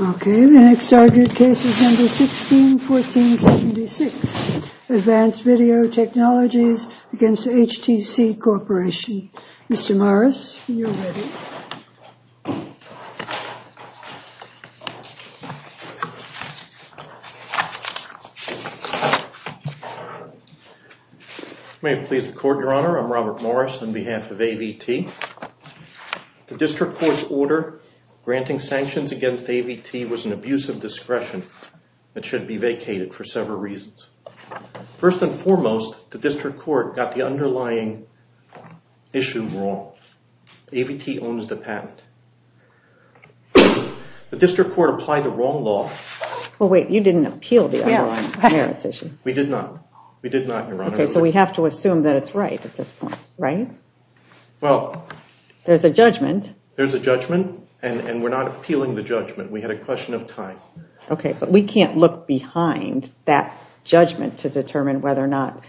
161476 Advanced Video Technologies against HTC Corporation. Mr. Morris, you're ready. May it please the Court, Your Honor. I'm Robert Morris on behalf of AVT. The District Court's order granting sanctions against AVT was an abuse of discretion. It should be vacated for several reasons. First and foremost, the District Court got the underlying issue wrong. AVT owns the patent. The District Court applied the wrong law. Well, wait, you didn't appeal the underlying merits issue. We did not. We did not, Your Honor. Okay, so we have to assume that it's right at this point, right? Well, there's a judgment. There's a judgment and we're not appealing the judgment. We had a question of time. Okay, but we can't look behind that judgment to determine whether or not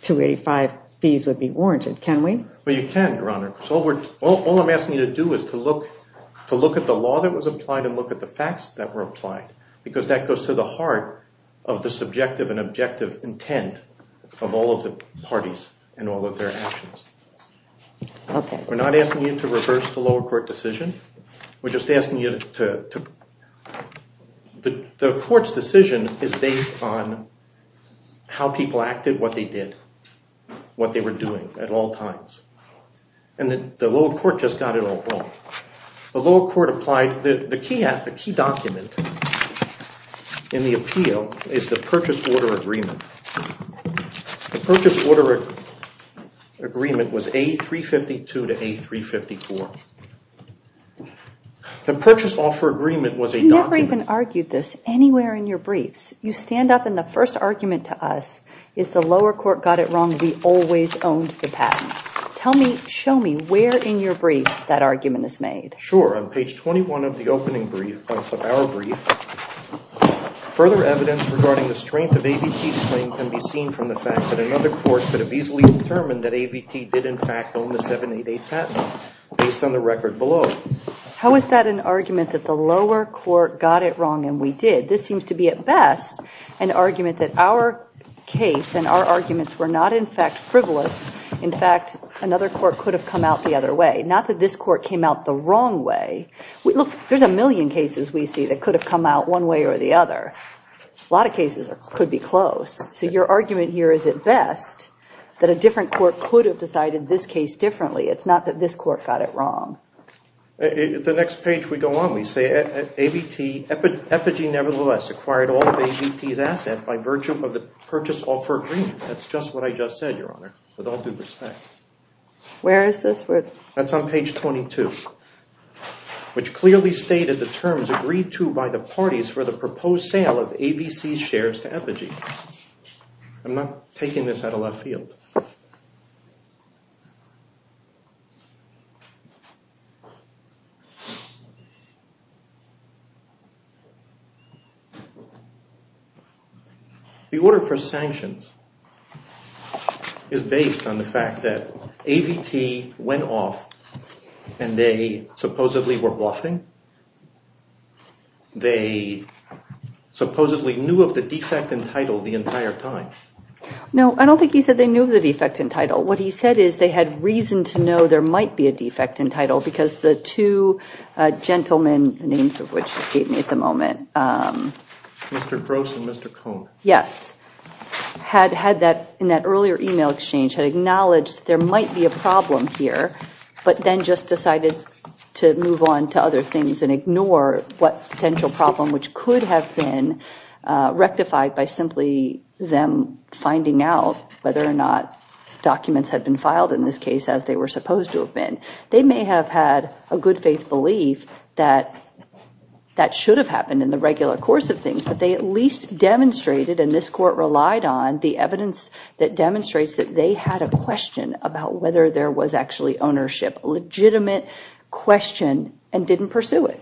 285 fees would be warranted. Can we? Well, you can, Your Honor. All I'm asking you to do is to look at the law that was applied and look at the facts that were applied because that goes to the heart of the subjective and objective intent of all of the parties and all of their actions. Okay. We're not asking you to reverse the lower court decision. We're just asking you to, the court's decision is based on how people acted, what they did, what they were doing at all times. And the lower court just got it all wrong. The lower court applied, the key document in the appeal is the purchase order agreement. The purchase order agreement was A352 to A354. The purchase offer agreement was a document. You never even argued this anywhere in your briefs. You stand up and the first argument to us is the lower court got it wrong. We always owned the patent. Tell me, show me where in your brief that argument is made. Sure, on page 21 of the opening brief, of our brief, further evidence regarding the strength of AVT's claim can be seen from the fact that another court could have easily determined that AVT did in fact own the 788 patent based on the record below. How is that an argument that the lower court got it wrong and we did? This seems to be at best an argument that our case and our arguments were not in fact frivolous. In fact, another court could have come out the other way. Not that this court came out the wrong way. Look, there's a million cases we see that could have come out one way or the other. A lot of cases could be close. So your argument here is at best that a different court could have decided this case differently. It's not that this court got it wrong. The next page we go on, we say AVT, Epogee nevertheless acquired all of AVT's assets by virtue of the purchase offer agreement. That's just what I just said, Your Honor, with all due respect. Where is this? That's on page 22, which clearly stated the terms agreed to by the parties for the proposed sale of AVC's shares to Epogee. I'm not taking this out of left field. The order for sanctions is based on the fact that AVT went off and they supposedly were bluffing. They supposedly knew of the defect in title the entire time. No, I don't think he said they knew of the defect in title. What he said is they had reason to know there might be a defect because the two gentlemen, names of which escape me at the moment. Mr. Gross and Mr. Cohn. Yes, had that in that earlier email exchange had acknowledged there might be a problem here, but then just decided to move on to other things and ignore what potential problem which could have been rectified by simply them finding out whether or not documents had been filed in this case as they were supposed to have been. They may have had a good faith belief that that should have happened in the regular course of things, but they at least demonstrated, and this court relied on, the evidence that demonstrates that they had a question about whether there was actually ownership. Legitimate question and didn't pursue it.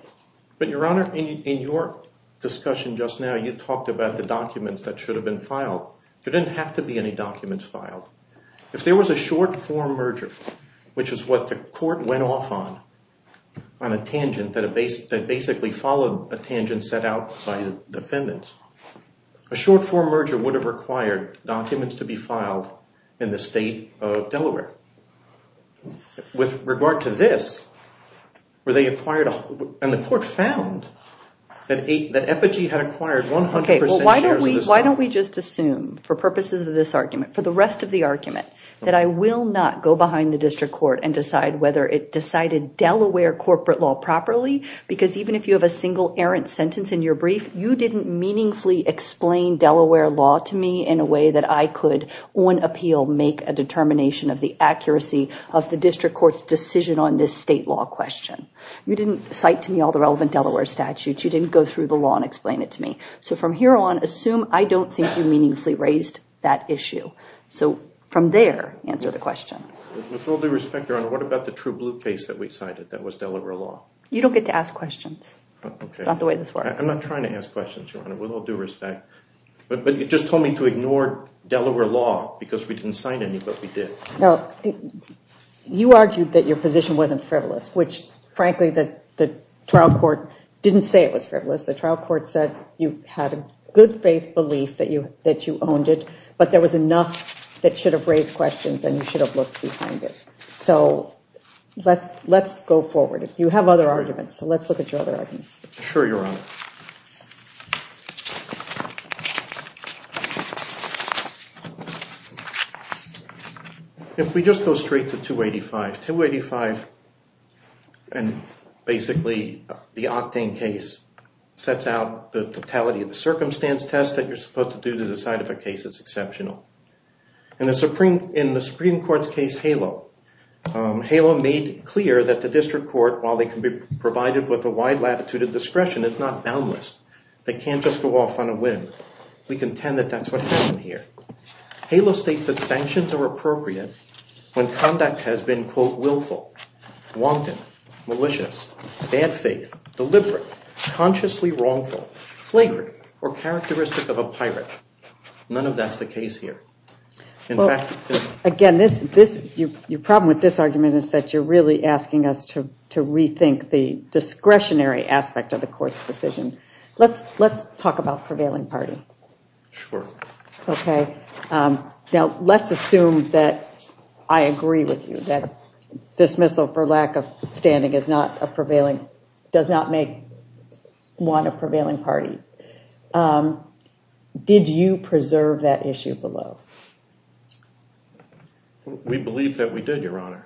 But your honor, in your discussion just now, you talked about the documents that should have been filed. There didn't have to be any documents filed. If there was a short-form merger, which is what the court went off on, on a tangent that basically followed a tangent set out by the defendants, a short-form merger would have required documents to be filed in the state of Delaware. With regard to this, were they acquired, and the court found that Epogee had acquired 100% shares of the stock. Why don't we just assume, for purposes of this argument, for the rest of the argument, that I will not go behind the district court and decide whether it decided Delaware corporate law properly, because even if you have a single errant sentence in your brief, you didn't meaningfully explain Delaware law to me in a way that I could, on appeal, make a determination of the accuracy of the district court's decision on this state law question. You didn't cite to me all the relevant Delaware statutes. You didn't go through the law and explain it to me. So from here on, assume I don't think you meaningfully raised that issue. So from there, answer the question. With all due respect, Your Honor, what about the true blue case that we cited that was Delaware law? You don't get to ask questions. It's not the way this works. I'm not trying to ask questions, Your Honor, with all due respect. But you just told me to ignore Delaware law because we didn't cite any, but we did. No, you argued that your position wasn't frivolous, which frankly, the trial court didn't say it was frivolous. The trial court said you had a good faith belief that you owned it, but there was enough that should have raised questions and you should have looked behind it. So let's go forward. You have other arguments. So let's look at your other arguments. Sure, Your Honor. If we just go straight to 285, 285 and basically the Octane case sets out the totality of the circumstance test that you're supposed to do to decide if a case is exceptional. In the Supreme Court's case, HALO, HALO made clear that the district court, while they can be provided with a wide latitude of discretion, is not boundless. They can't just go off on a whim. We contend that that's what happened here. HALO states that sanctions are appropriate when conduct has been, quote, willful, wanton, malicious, bad faith, deliberate, consciously wrongful, flagrant, or characteristic of a pirate. None of that's the case here. In fact, again, your problem with this argument is that you're really asking us to rethink the discretionary aspect of the court's decision. Let's talk about prevailing party. Sure. Okay. Now, let's assume that I agree with you that dismissal for I want a prevailing party. Did you preserve that issue below? We believe that we did, Your Honor.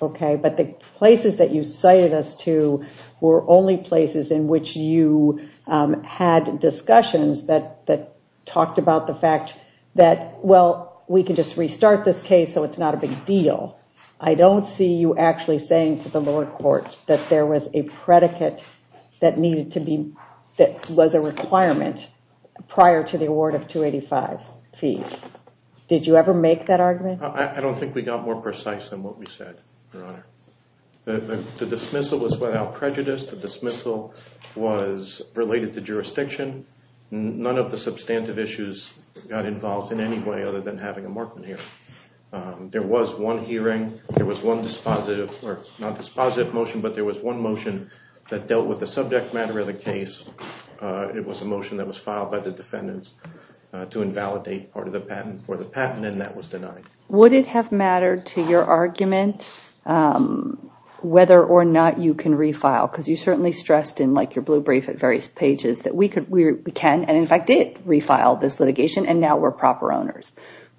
Okay, but the places that you cited us to were only places in which you had discussions that talked about the fact that, well, we can just restart this case, so it's not a big deal. I don't see you actually saying to the lower court that there was a predicate that was a requirement prior to the award of 285 fees. Did you ever make that argument? I don't think we got more precise than what we said, Your Honor. The dismissal was without prejudice. The dismissal was related to jurisdiction. None of the substantive issues got involved in any way other than having a Morkman hearing. There was one hearing. There was one dispositive, or not dispositive motion, but there was one motion that dealt with the subject matter of the case. It was a motion that was filed by the defendants to invalidate part of the patent for the patent, and that was denied. Would it have mattered to your argument whether or not you can refile? Because you certainly stressed in your blue brief at various pages that we can, and in fact did, refile this litigation, and now we're proper owners.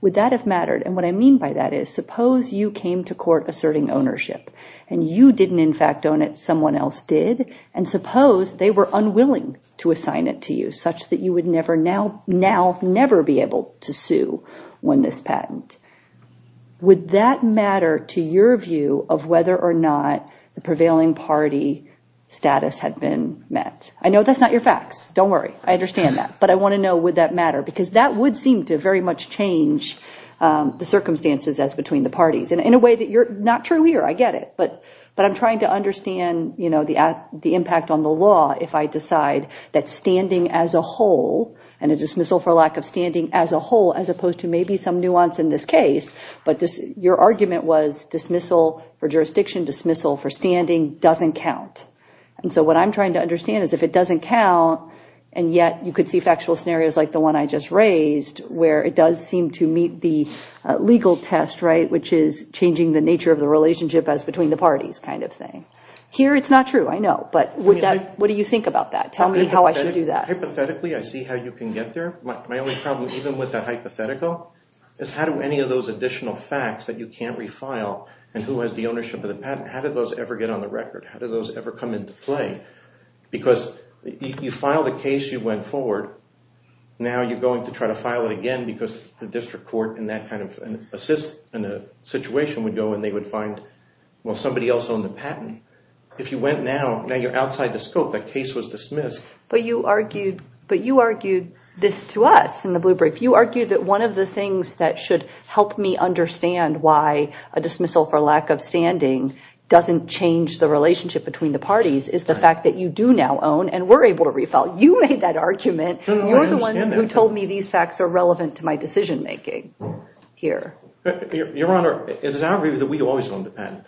Would that have mattered? And what I mean by that is, suppose you came to court asserting ownership, and you didn't in fact own it. Someone else did, and suppose they were unwilling to assign it to you, such that you would now never be able to sue when this patent. Would that matter to your view of whether or not the prevailing party status had been met? I know that's not your facts. Don't worry. I understand that, but I want to know, would that matter? Because that would seem to very much change the circumstances as between the parties, and in a way that you're not true here. I get it. But I'm trying to understand, you know, the impact on the law if I decide that standing as a whole, and a dismissal for lack of standing as a whole, as opposed to maybe some nuance in this case, but your argument was dismissal for jurisdiction, dismissal for standing doesn't count. And so what I'm trying to understand is if it doesn't count, and yet you could see factual scenarios like the one I just raised, where it does seem to meet the legal test, right, which is changing the nature of the relationship as between the parties kind of thing. Here, it's not true. I know, but what do you think about that? Tell me how I should do that. Hypothetically, I see how you can get there. My only problem, even with the hypothetical, is how do any of those additional facts that you can't refile, and who has the ownership of the patent, how do those ever get on the record? How do those ever come into play? Because you file the case you went forward. Now you're going to try to file it again because the district court in that kind of a situation would go and they would find, well, somebody else owned the patent. If you went now, now you're outside the scope. That case was dismissed. But you argued this to us in the blue brief. You argued that one of the things that should help me understand why a dismissal for lack of standing doesn't change the relationship between the parties is the fact that you do now own and were able to refile. You made that argument. You're the one who told me these facts are relevant to my decision-making here. Your Honor, it is our view that we always own the patent.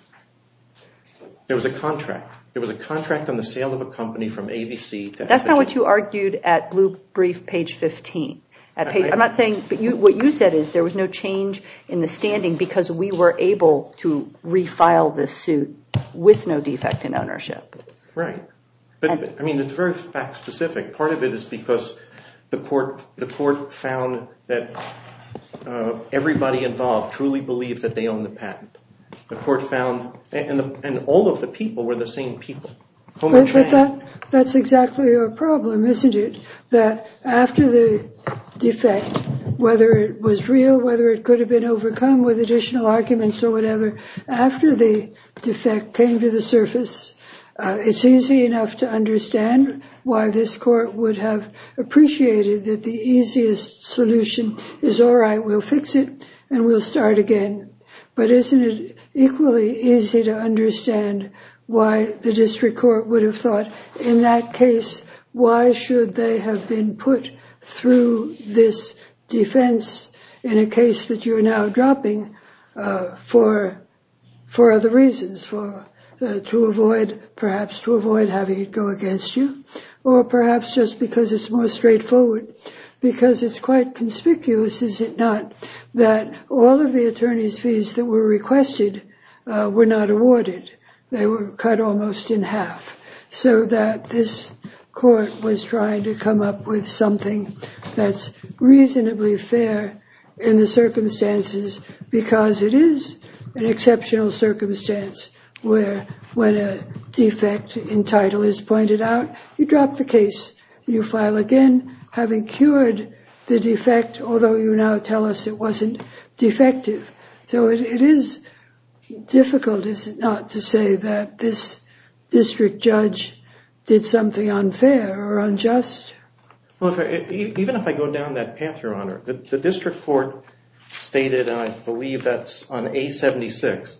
There was a contract. There was a contract on the sale of a company from ABC. That's not what you argued at blue brief page 15. I'm not saying, but what you said is there was no change in the standing because we were able to refile this suit with no defect in ownership. Right. But I mean, it's very fact-specific. Part of it is because the court found that everybody involved truly believed that they own the patent. The court found, and all of the people were the same people. That's exactly your problem, isn't it? That after the defect, whether it was real, whether it could have been overcome with additional arguments or whatever, after the defect came to the surface, it's easy enough to understand why this court would have appreciated that the easiest solution is, all right, we'll fix it and we'll start again. But isn't it equally easy to understand why the district court would have thought in that case, why should they have been put through this defense in a case that you're now dropping for other reasons, perhaps to avoid having it go against you, or perhaps just because it's more straightforward, because it's quite conspicuous, is it not, that all of the attorney's fees that were requested were not awarded? They were cut almost in half, so that this court was trying to come up with something that's reasonably fair in the case, because it is an exceptional circumstance where, when a defect in title is pointed out, you drop the case, you file again, having cured the defect, although you now tell us it wasn't defective. So it is difficult, is it not, to say that this district judge did something unfair or unjust? Well, even if I go down that path, Your Honor, the district court stated, and I believe that's on A-76,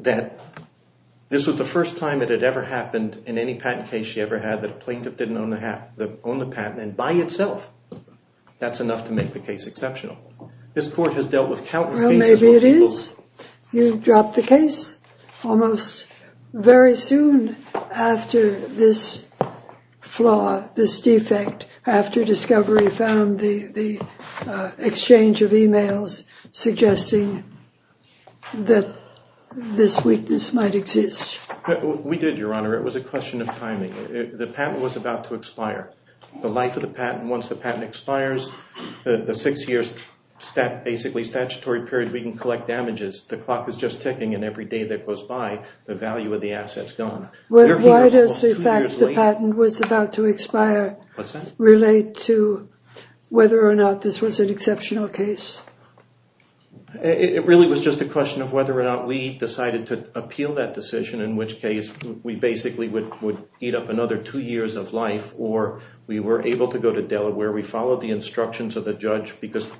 that this was the first time it had ever happened in any patent case she ever had, that a plaintiff didn't own the patent, and by itself, that's enough to make the case exceptional. This court has dealt with countless cases where people... Well, maybe it is. You drop the case. Almost very soon after this flaw, this defect, after Discovery found the exchange of emails suggesting that this weakness might exist. We did, Your Honor. It was a question of timing. The patent was about to expire. The life of the patent, once the patent expires, the six years, basically statutory period, we can collect damages. The clock is just ticking, and every day that goes by, the value of the asset's gone. Why does the fact the patent was about to expire relate to whether or not this was an exceptional case? It really was just a question of whether or not we decided to appeal that decision, in which case we basically would eat up another two years of life, or we were able to go to Delaware. We followed the instructions of the judge because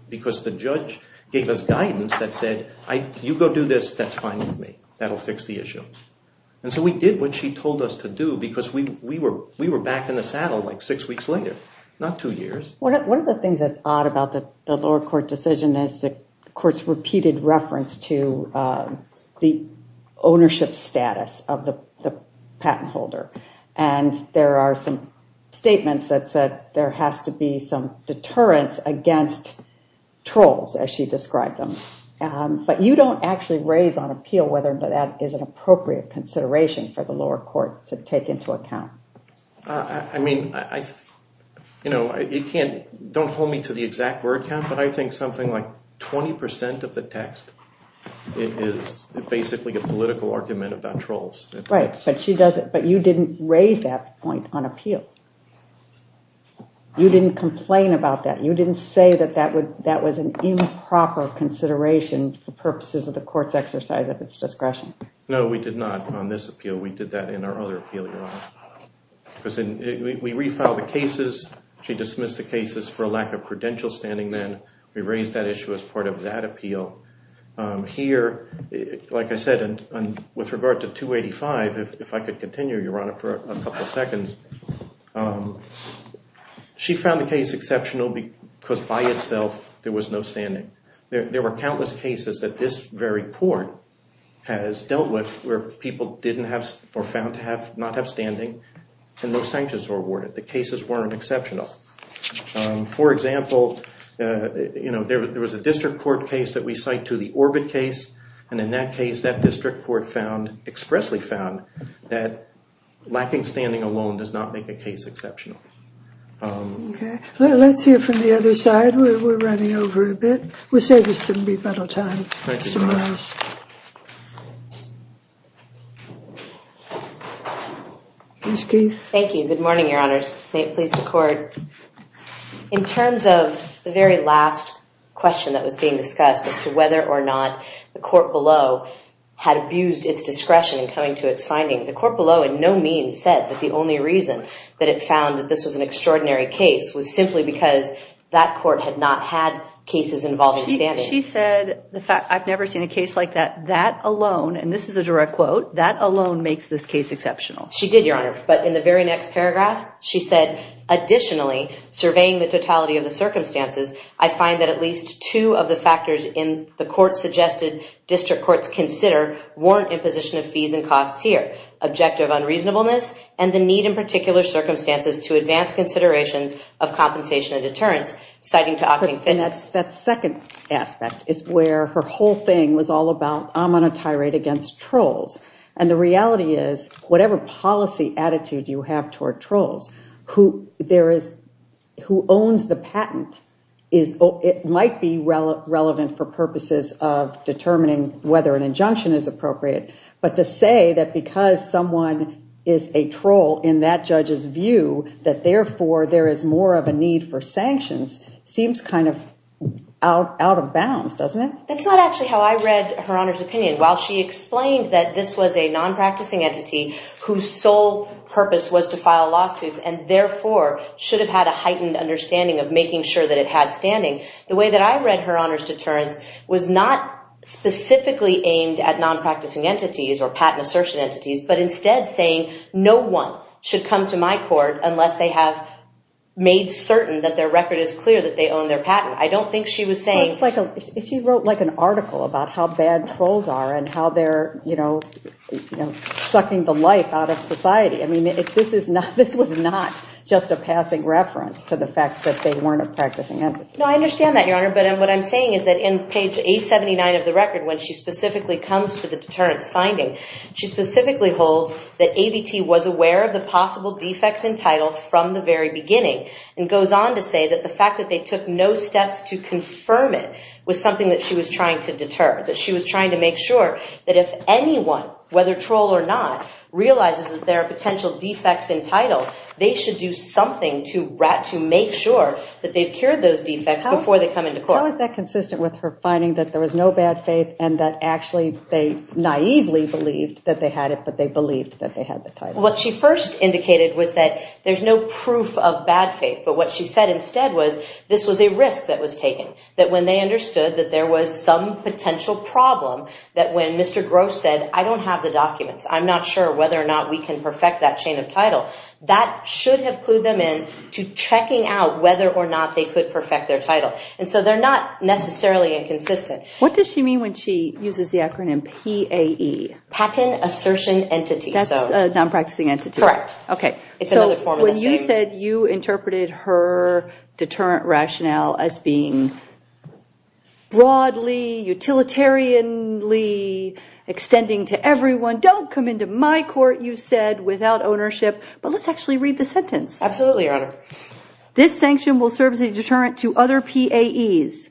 the judge gave us guidance that said, you go do this. That's fine with me. That'll fix the issue. And so we did what she told us to do because we were back in the saddle like six weeks later, not two years. One of the things that's odd about the lower court decision is the court's repeated reference to the ownership status of the patent holder, and there are some statements that said there has to be some deterrence against trolls, as she described them, but you don't actually raise on appeal whether that is an appropriate consideration for the lower court to take into account. I mean, you know, don't hold me to the exact word count, but I think something like 20% of the text is basically a political argument about trolls. Right, but you didn't raise that point on appeal. You didn't complain about that. You didn't say that that was an improper consideration for purposes of the court's exercise of its discretion. No, we did not on this appeal. We did that in our other appeal, Your Honor. We refiled the cases. She dismissed the cases for a lack of credential standing. Then we raised that issue as part of that appeal. Here, like I said, and with regard to 285, if I could continue, Your Honor, for a couple of seconds, she found the case exceptional because by itself there was no standing. There were countless cases that this very court has dealt with where people didn't have or found to not have standing. And no sanctions were awarded. The cases weren't exceptional. For example, you know, there was a district court case that we cite to the Orbit case. And in that case, that district court found, expressly found, that lacking standing alone does not make a case exceptional. Okay, let's hear from the other side. We're running over a bit. We said this wouldn't be a lot of time. Thank you, Your Honor. Thank you. Good morning, Your Honors. May it please the Court. In terms of the very last question that was being discussed as to whether or not the court below had abused its discretion in coming to its finding, the court below in no means said that the only reason that it found that this was an extraordinary case was simply because that court had not had cases involving standing. She said the fact, I've never seen a case like that, that alone, and this is a direct quote, that alone makes this case exceptional. She did, Your Honor. But in the very next paragraph, she said, additionally, surveying the totality of the circumstances, I find that at least two of the factors in the court suggested district courts consider warrant imposition of fees and costs here. Objective unreasonableness and the need in particular circumstances to advance considerations of compensation and deterrence, citing to opting fitness. And that's that second aspect is where her whole thing was all about I'm on a tirade against trolls. And the reality is whatever policy attitude you have toward trolls who there is, who owns the patent is, it might be relevant for purposes of determining whether an injunction is appropriate. But to say that because someone is a troll in that judge's view that therefore there is more of a need for sanctions seems kind of out of bounds, doesn't it? That's not actually how I read Her Honor's opinion. While she explained that this was a non-practicing entity whose sole purpose was to file lawsuits, and therefore should have had a heightened understanding of making sure that it had standing. The way that I read Her Honor's deterrence was not specifically aimed at non-practicing entities or patent assertion entities, but instead saying no one should come to my court unless they have made certain that their record is clear that they own their patent. I don't think she was saying... She wrote like an article about how bad trolls are and how they're sucking the life out of society. I mean, this was not just a passing reference to the fact that they weren't a practicing entity. No, I understand that, Your Honor. But what I'm saying is that in page 879 of the record when she specifically comes to the deterrence finding, she specifically holds that AVT was aware of the possible defects in title from the very beginning and goes on to say that the fact that they took no steps to confirm it was something that she was trying to deter, that she was trying to make sure that if anyone, whether troll or not, realizes that there are potential defects in title, they should do something to make sure that they've cured those defects before they come into court. How is that consistent with her finding that there was no bad faith and that actually they naively believed that they had it, but they believed that they had the title? What she first indicated was that there's no proof of bad faith, but what she said instead was this was a risk that was taken, that when they understood that there was some potential problem, that when Mr. Gross said, I don't have the documents, I'm not sure whether or not we can perfect that chain of title, that should have clued them in to checking out whether or not they could perfect their title. And so they're not necessarily inconsistent. What does she mean when she uses the acronym PAE? Patent Assertion Entity. That's a non-practicing entity. Correct. Okay. So when you said you interpreted her deterrent rationale as being broadly, utilitarianly, extending to everyone, don't come into my court, you said, without ownership, but let's actually read the sentence. Absolutely, Your Honor. This sanction will serve as a deterrent to other PAEs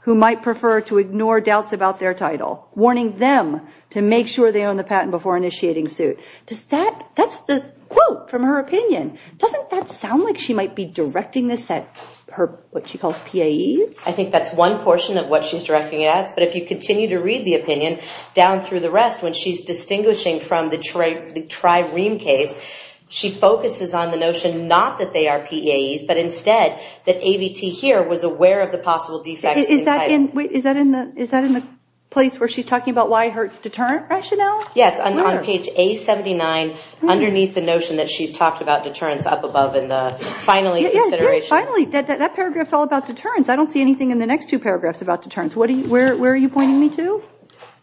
who might prefer to ignore doubts about their title, warning them to make sure they own the patent before initiating suit. Does that, that's the quote from her opinion. Doesn't that sound like she might be directing this at her, what she calls, PAEs? I think that's one portion of what she's directing it at. But if you continue to read the opinion down through the rest, when she's distinguishing from the TriReam case, she focuses on the notion not that they are PAEs, but instead that AVT here was aware of the possible defects. Is that in the place where she's talking about why her deterrent rationale? Yeah, it's on page A79, underneath the notion that she's talked about deterrence up above in the finally consideration. Finally, that paragraph is all about deterrence. I don't see anything in the next two paragraphs about deterrence. Where are you pointing me to?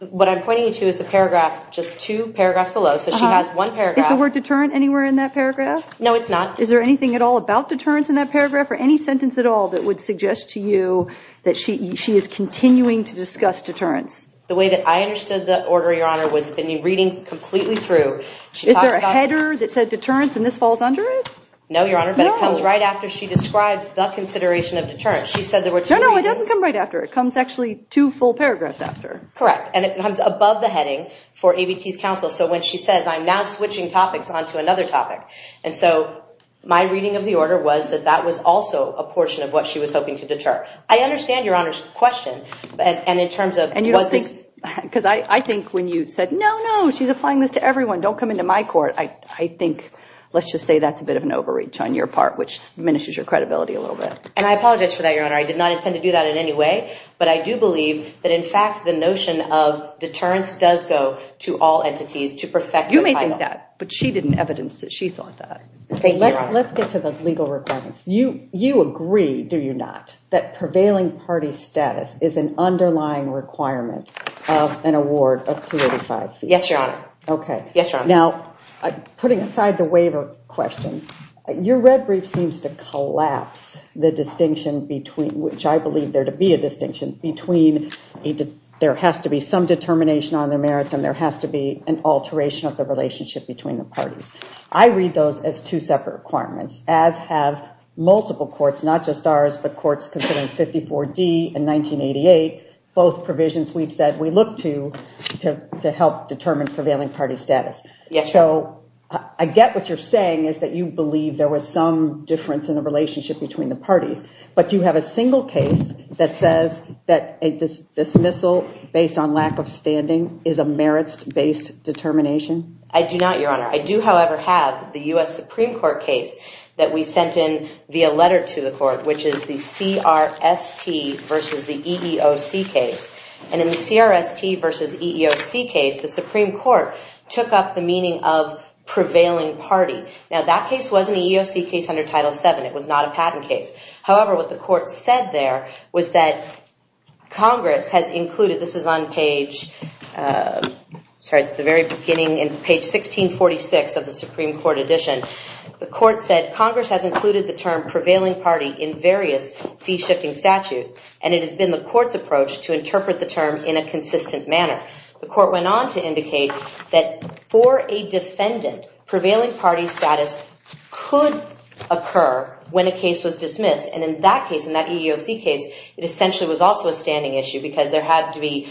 What I'm pointing you to is the paragraph, just two paragraphs below. So she has one paragraph. Is the word deterrent anywhere in that paragraph? No, it's not. Is there anything at all about deterrence in that paragraph or any sentence at all that would suggest to you that she is continuing to discuss deterrence? The way that I understood the order, Your Honor, was in reading completely through. Is there a header that said deterrence and this falls under it? No, Your Honor, but it comes right after she describes the consideration of deterrence. She said there were two reasons. No, no, it doesn't come right after. It comes actually two full paragraphs after. Correct. And it comes above the heading for AVT's counsel. So when she says, I'm now switching topics onto another topic. And so my reading of the order was that that was also a portion of what she was hoping to deter. I understand Your Honor's question. And in terms of was this... Because I think when you said, no, no, she's applying this to everyone. Don't come into my court. I think, let's just say that's a bit of an overreach on your part, which diminishes your credibility a little bit. And I apologize for that, Your Honor. I did not intend to do that in any way. But I do believe that, in fact, the notion of deterrence does go to all entities to perfect the title. You may think that, but she didn't evidence that. She thought that. Thank you, Your Honor. Let's get to the legal requirements. You agree, do you not, that prevailing party status is an underlying requirement of an award of 285 feet? Yes, Your Honor. Okay. Yes, Your Honor. Now, putting aside the waiver question, your red brief seems to collapse the distinction between, which I believe there to be a distinction, between there has to be some determination on their merits and there has to be an alteration of the relationship between the parties. I read those as two separate requirements, as have multiple courts, not just ours, but courts considering 54D and 1988, both provisions we've said we look to to help determine prevailing party status. Yes. So I get what you're saying is that you believe there was some difference in the relationship between the parties. But do you have a single case that says that a dismissal based on lack of standing is a merits-based determination? I do not, Your Honor. I do, however, have the U.S. Supreme Court case that we sent in via letter to the court, which is the CRST versus the EEOC case. And in the CRST versus EEOC case, the Supreme Court took up the meaning of prevailing party. Now, that case wasn't an EEOC case under Title VII. It was not a patent case. However, what the court said there was that Congress has included, this is on page, sorry, it's the very beginning in page 1646 of the Supreme Court edition. The court said Congress has included the term prevailing party in various fee-shifting statute. And it has been the court's approach to interpret the term in a consistent manner. The court went on to indicate that for a defendant, prevailing party status could occur when a case was dismissed. And in that case, in that EEOC case, it essentially was also a standing issue because there had to be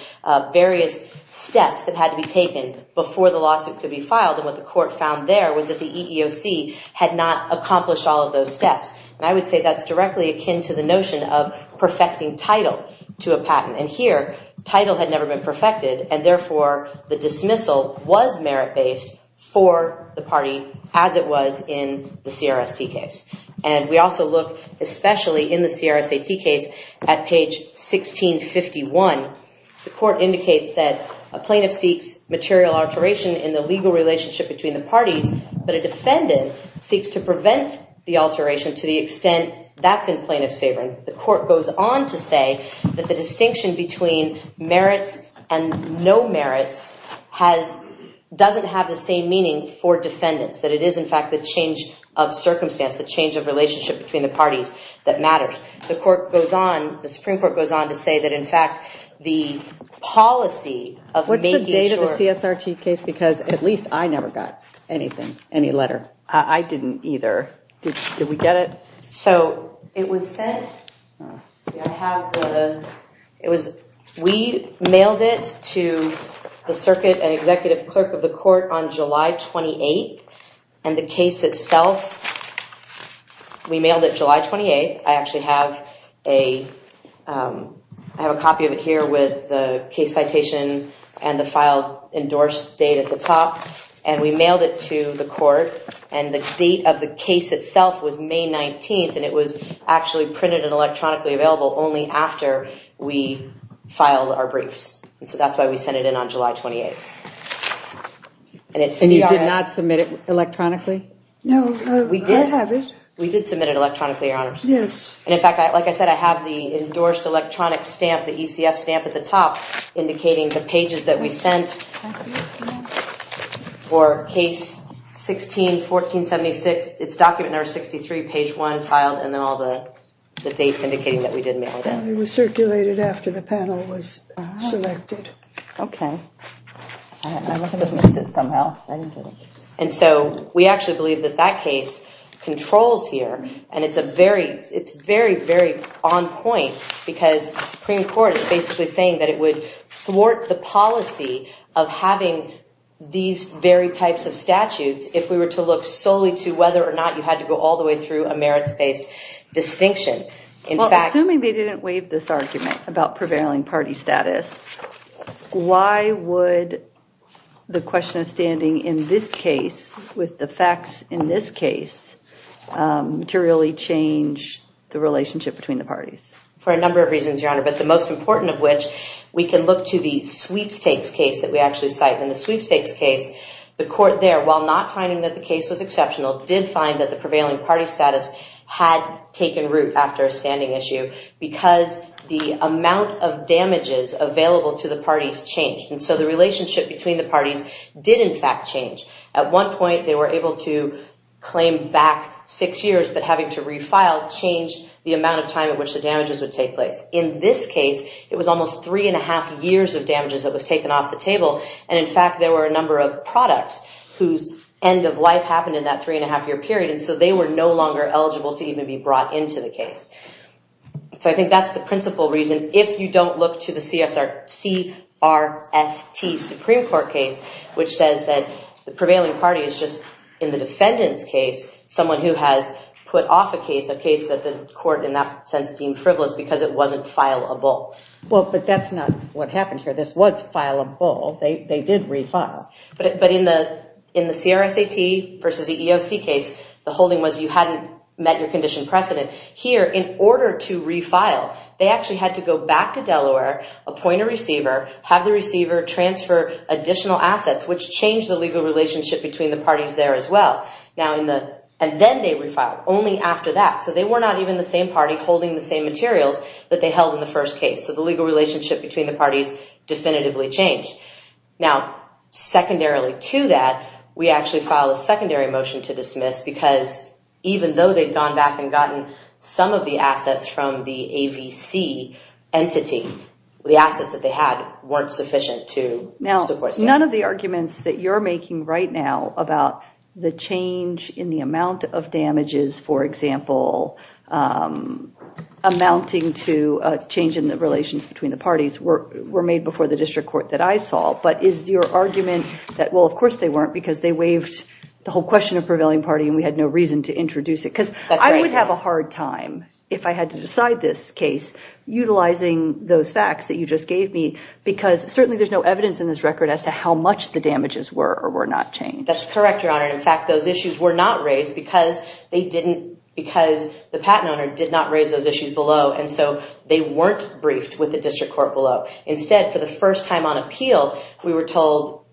various steps that had to be taken before the lawsuit could be filed. And what the court found there was that the EEOC had not accomplished all of those steps. And I would say that's directly akin to the notion of perfecting title to a patent. And here, title had never been perfected. And therefore, the dismissal was merit-based for the party as it was in the CRST case. And we also look, especially in the CRST case, at page 1651. The court indicates that a plaintiff seeks material alteration in the legal relationship between the parties, but a defendant seeks to prevent the alteration to the extent that's in plaintiff's favor. And the court goes on to say that the distinction between merits and no merits doesn't have the same meaning for defendants, that it is, in fact, the change of circumstance, the change of relationship between the parties that matters. The Supreme Court goes on to say that, in fact, the policy of making sure... What's the date of the CRST case? Because at least I never got anything, any letter. I didn't either. Did we get it? So, it was sent... We mailed it to the circuit and executive clerk of the court on July 28th. And the case itself, we mailed it July 28th. I actually have a... I have a copy of it here with the case citation and the file endorsed date at the top. And we mailed it to the court. And the date of the case itself was May 19th. And it was actually printed and electronically available only after we filed our briefs. So, that's why we sent it in on July 28th. And you did not submit it electronically? No, I have it. We did submit it electronically, Your Honor. Yes. And, in fact, like I said, I have the endorsed electronic stamp, the ECF stamp at the top, indicating the pages that we sent for case 16-1476. It's document number 63, page 1, filed, and then all the dates indicating that we did mail them. It was circulated after the panel was selected. Okay. I must have missed it somehow. And so, we actually believe that that case controls here. And it's a very... It's very, very on point because the Supreme Court is basically saying that it would thwart the policy of having these very types of statutes if we were to look solely to whether or not you had to go all the way through a merits-based distinction. Well, assuming they didn't waive this argument about prevailing party status, why would the question of standing in this case with the facts in this case materially change the relationship between the parties? For a number of reasons, Your Honor, but the most important of which, we can look to the Sweepstakes case that we actually cite. In the Sweepstakes case, the court there, while not finding that the case was exceptional, did find that the prevailing party status had taken root after a standing issue because the amount of damages available to the parties changed. And so, the relationship between the parties did, in fact, change. At one point, they were able to claim back six years, but having to refile changed the amount of time at which the damages would take place. In this case, it was almost three and a half years of damages that was taken off the table. And, in fact, there were a number of products whose end of life happened in that three and a half year period. And so, they were no longer eligible to even be brought into the case. So, I think that's the principal reason. If you don't look to the CRST Supreme Court case, which says that the prevailing party is just, in the defendant's case, someone who has put off a case, a case that the court, in that sense, deemed frivolous because it wasn't fileable. Well, but that's not what happened here. This was fileable. They did refile. But in the CRSAT versus the EOC case, the holding was you hadn't met your condition precedent. Here, in order to refile, they actually had to go back to Delaware, appoint a receiver, have the receiver transfer additional assets, which changed the legal relationship between the parties there as well. And then they refiled, only after that. So, they were not even the same party holding the same materials that they held in the first case. So, the legal relationship between the parties definitively changed. Now, secondarily to that, we actually filed a secondary motion to dismiss because even though they'd gone back and gotten some of the assets from the AVC entity, the assets that they had weren't sufficient to support... Now, none of the arguments that you're making right now about the change in the amount of damages, for example, amounting to a change in the relations between the parties were made before the district court that I saw. But is your argument that, well, of course they weren't because they waived the whole question of prevailing party and we had no reason to introduce it? Because I would have a hard time, if I had to decide this case, utilizing those facts that you just gave me because certainly there's no evidence in this record as to how much the damages were or were not changed. That's correct, Your Honor. In fact, those issues were not raised because the patent owner did not raise those issues below. And so they weren't briefed with the district court below. Instead, for the first time on appeal, we were told,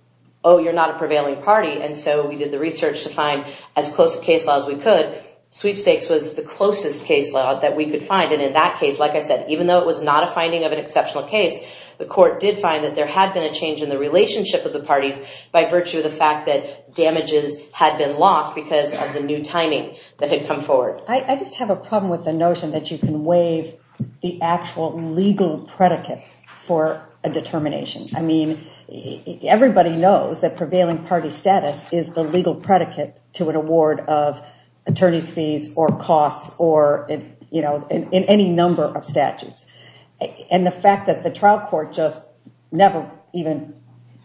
oh, you're not a prevailing party. And so we did the research to find as close a case law as we could. Sweepstakes was the closest case law that we could find. And in that case, like I said, even though it was not a finding of an exceptional case, the court did find that there had been a change in the relationship of the parties by virtue of the fact that damages had been lost because of the new timing that had come forward. I just have a problem with the notion that you can waive the actual legal predicate for a determination. I mean, everybody knows that prevailing party status is the legal predicate to an award of attorney's fees or costs or, you know, in any number of statutes. And the fact that the trial court just never even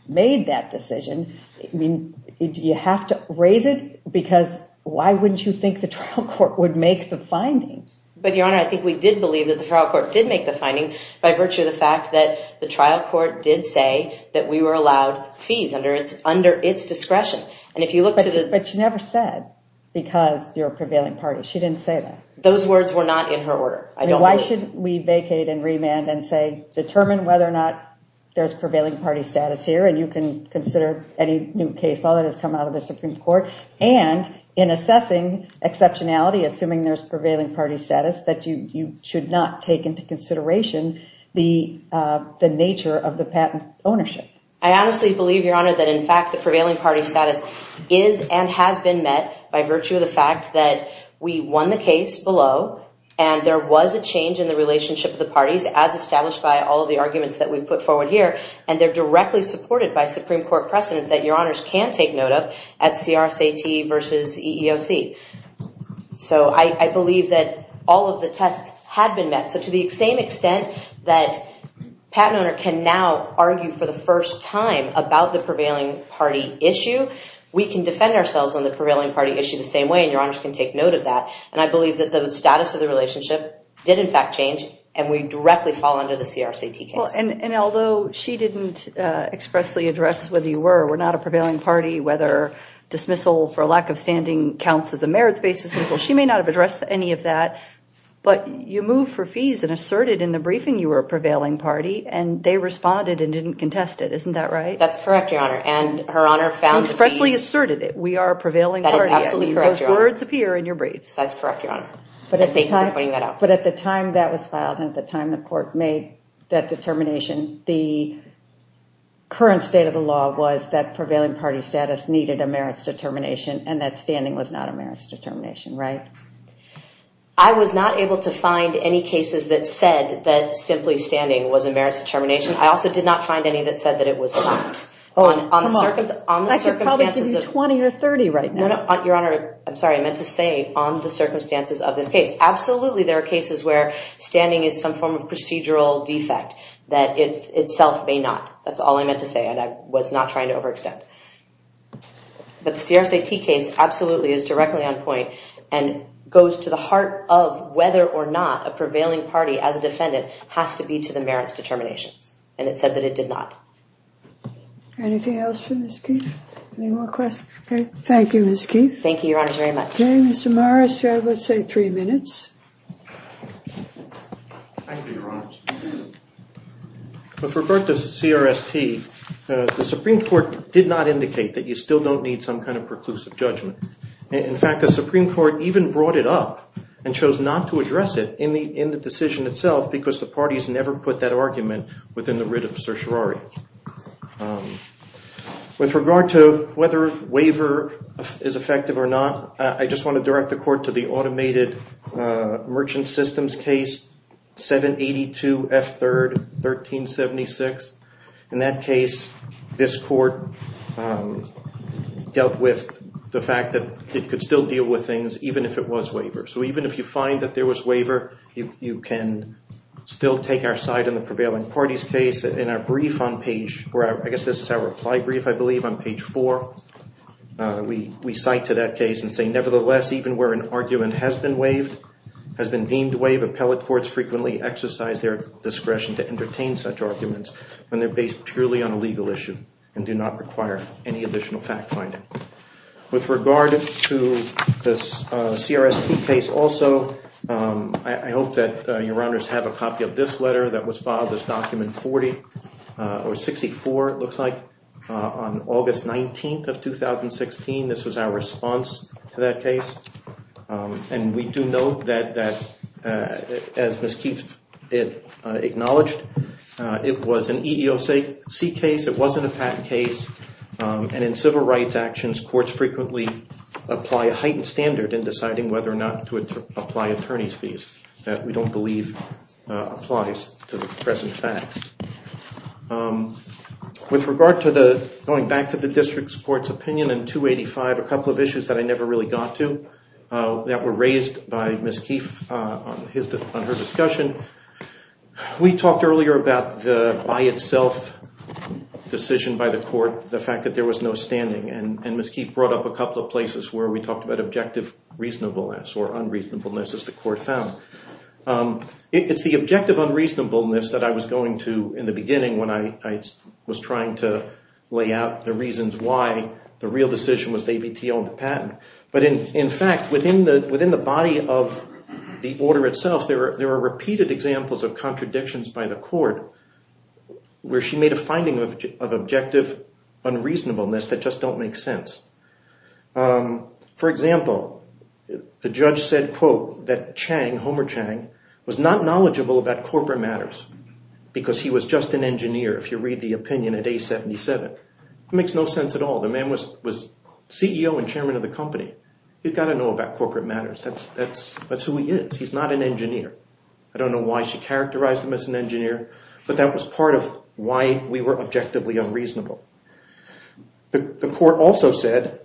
made that decision, I mean, do you have to raise it? Because why wouldn't you think the trial court would make the finding? But, Your Honor, I think we did believe that the trial court did make the finding by virtue of the fact that the trial court did say that we were allowed fees under its discretion. And if you look to the... But she never said, because you're a prevailing party. She didn't say that. Those words were not in her order. I mean, why shouldn't we vacate and remand and say, determine whether or not there's prevailing party status here and you can consider any new case. All that has come out of the Supreme Court. And in assessing exceptionality, assuming there's prevailing party status, that you should not take into consideration the nature of the patent ownership. I honestly believe, Your Honor, that in fact, the prevailing party status is and has been met by virtue of the fact that we won the case below and there was a change in the relationship of the parties as established by all of the arguments that we've put forward here. And they're directly supported by Supreme Court precedent that Your Honors can take note of at CRCT versus EEOC. So I believe that all of the tests had been met. So to the same extent that patent owner can now argue for the first time about the prevailing party issue, we can defend ourselves on the prevailing party issue the same way. And Your Honors can take note of that. And I believe that the status of the relationship did in fact change and we directly fall under the CRCT case. And although she didn't expressly address whether you were or were not a prevailing party, whether dismissal for lack of standing counts as a merits-based dismissal, she may not have addressed any of that. But you moved for fees and asserted in the briefing you were a prevailing party and they responded and didn't contest it. Isn't that right? That's correct, Your Honor. And Her Honor found... You expressly asserted it. We are a prevailing party. That is absolutely correct, Your Honor. Those words appear in your briefs. That's correct, Your Honor. Thank you for pointing that out. But at the time that was filed and at the time the court made that determination, the current state of the law was that prevailing party status needed a merits determination and that standing was not a merits determination, right? I was not able to find any cases that said that simply standing was a merits determination. I also did not find any that said that it was not. On the circumstances... I could probably give you 20 or 30 right now. Your Honor, I'm sorry, I meant to say on the circumstances of this case. Absolutely, there are cases where standing is some form of procedural defect that it itself may not. That's all I meant to say and I was not trying to overextend. But the CRSA T case absolutely is directly on point and goes to the heart of whether or not a prevailing party as a defendant has to be to the merits determinations. And it said that it did not. Anything else for Ms. Keefe? Any more questions? Thank you, Ms. Keefe. Thank you, Your Honor, very much. Okay, Mr. Morris, you have, let's say, three minutes. Thank you, Your Honor. With regard to CRST, the Supreme Court did not indicate that you still don't need some kind of preclusive judgment. In fact, the Supreme Court even brought it up and chose not to address it in the decision itself because the parties never put that argument within the writ of certiorari. With regard to whether waiver is effective or not, I just want to direct the Court to the automated merchant systems case, 782 F. 3rd, 1376. In that case, this Court dealt with the fact that it could still deal with things even if it was waiver. So even if you find that there was waiver, you can still take our side in the prevailing parties case. In our brief on page, I guess this is our reply brief, I believe, on page 4, we cite to that case and say, nevertheless, even where an argument has been deemed waived, appellate courts frequently exercise their discretion to entertain such arguments when they're based purely on a legal issue and do not require any additional fact-finding. With regard to this CRST case also, I hope that Your Honors have a copy of this letter that was filed as Document 40, or 64, it looks like, on August 19th of 2016. This was our response to that case. And we do note that, as Ms. Keefe acknowledged, it was an EEOC case. It wasn't a patent case. And in civil rights actions, courts frequently apply a heightened standard in deciding whether or not to apply attorney's fees that we don't believe applies to the present facts. With regard to the, going back to the district court's opinion in 285, a couple of issues that I never really got to, that were raised by Ms. Keefe on her discussion. We talked earlier about the by-itself decision by the court, the fact that there was no standing. And Ms. Keefe brought up a couple of places where we talked about objective reasonableness or unreasonableness, as the court found. It's the objective unreasonableness that I was going to in the beginning when I was trying to lay out the reasons why the real decision was that ABT owned the patent. But in fact, within the body of the order itself, there are repeated examples of contradictions by the court where she made a finding of objective unreasonableness that just don't make sense. For example, the judge said, quote, that Chang, Homer Chang, was not knowledgeable about corporate matters because he was just an engineer. If you read the opinion at A-77, it makes no sense at all. The man was CEO and chairman of the company. You've got to know about corporate matters. That's who he is. He's not an engineer. I don't know why she characterized him as an engineer, but that was part of why we were objectively unreasonable. The court also said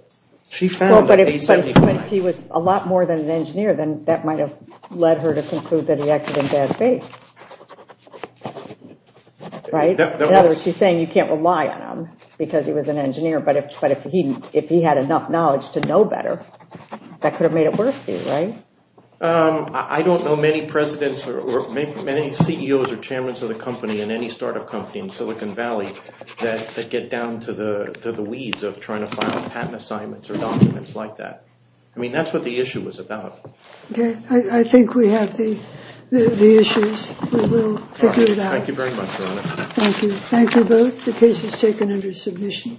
she found that A-75... Well, but if he was a lot more than an engineer, then that might have led her to conclude that he acted in bad faith. Right? In other words, she's saying you can't rely on him because he was an engineer, but if he had enough knowledge to know better, that could have made it worse for you, right? I don't know many presidents or CEOs or chairmen of the company in any startup company in Silicon Valley that get down to the weeds of trying to file patent assignments or documents like that. I mean, that's what the issue was about. I think we have the issues. We'll figure it out. Thank you very much, Your Honor. Thank you. Thank you both. The case is taken under submission.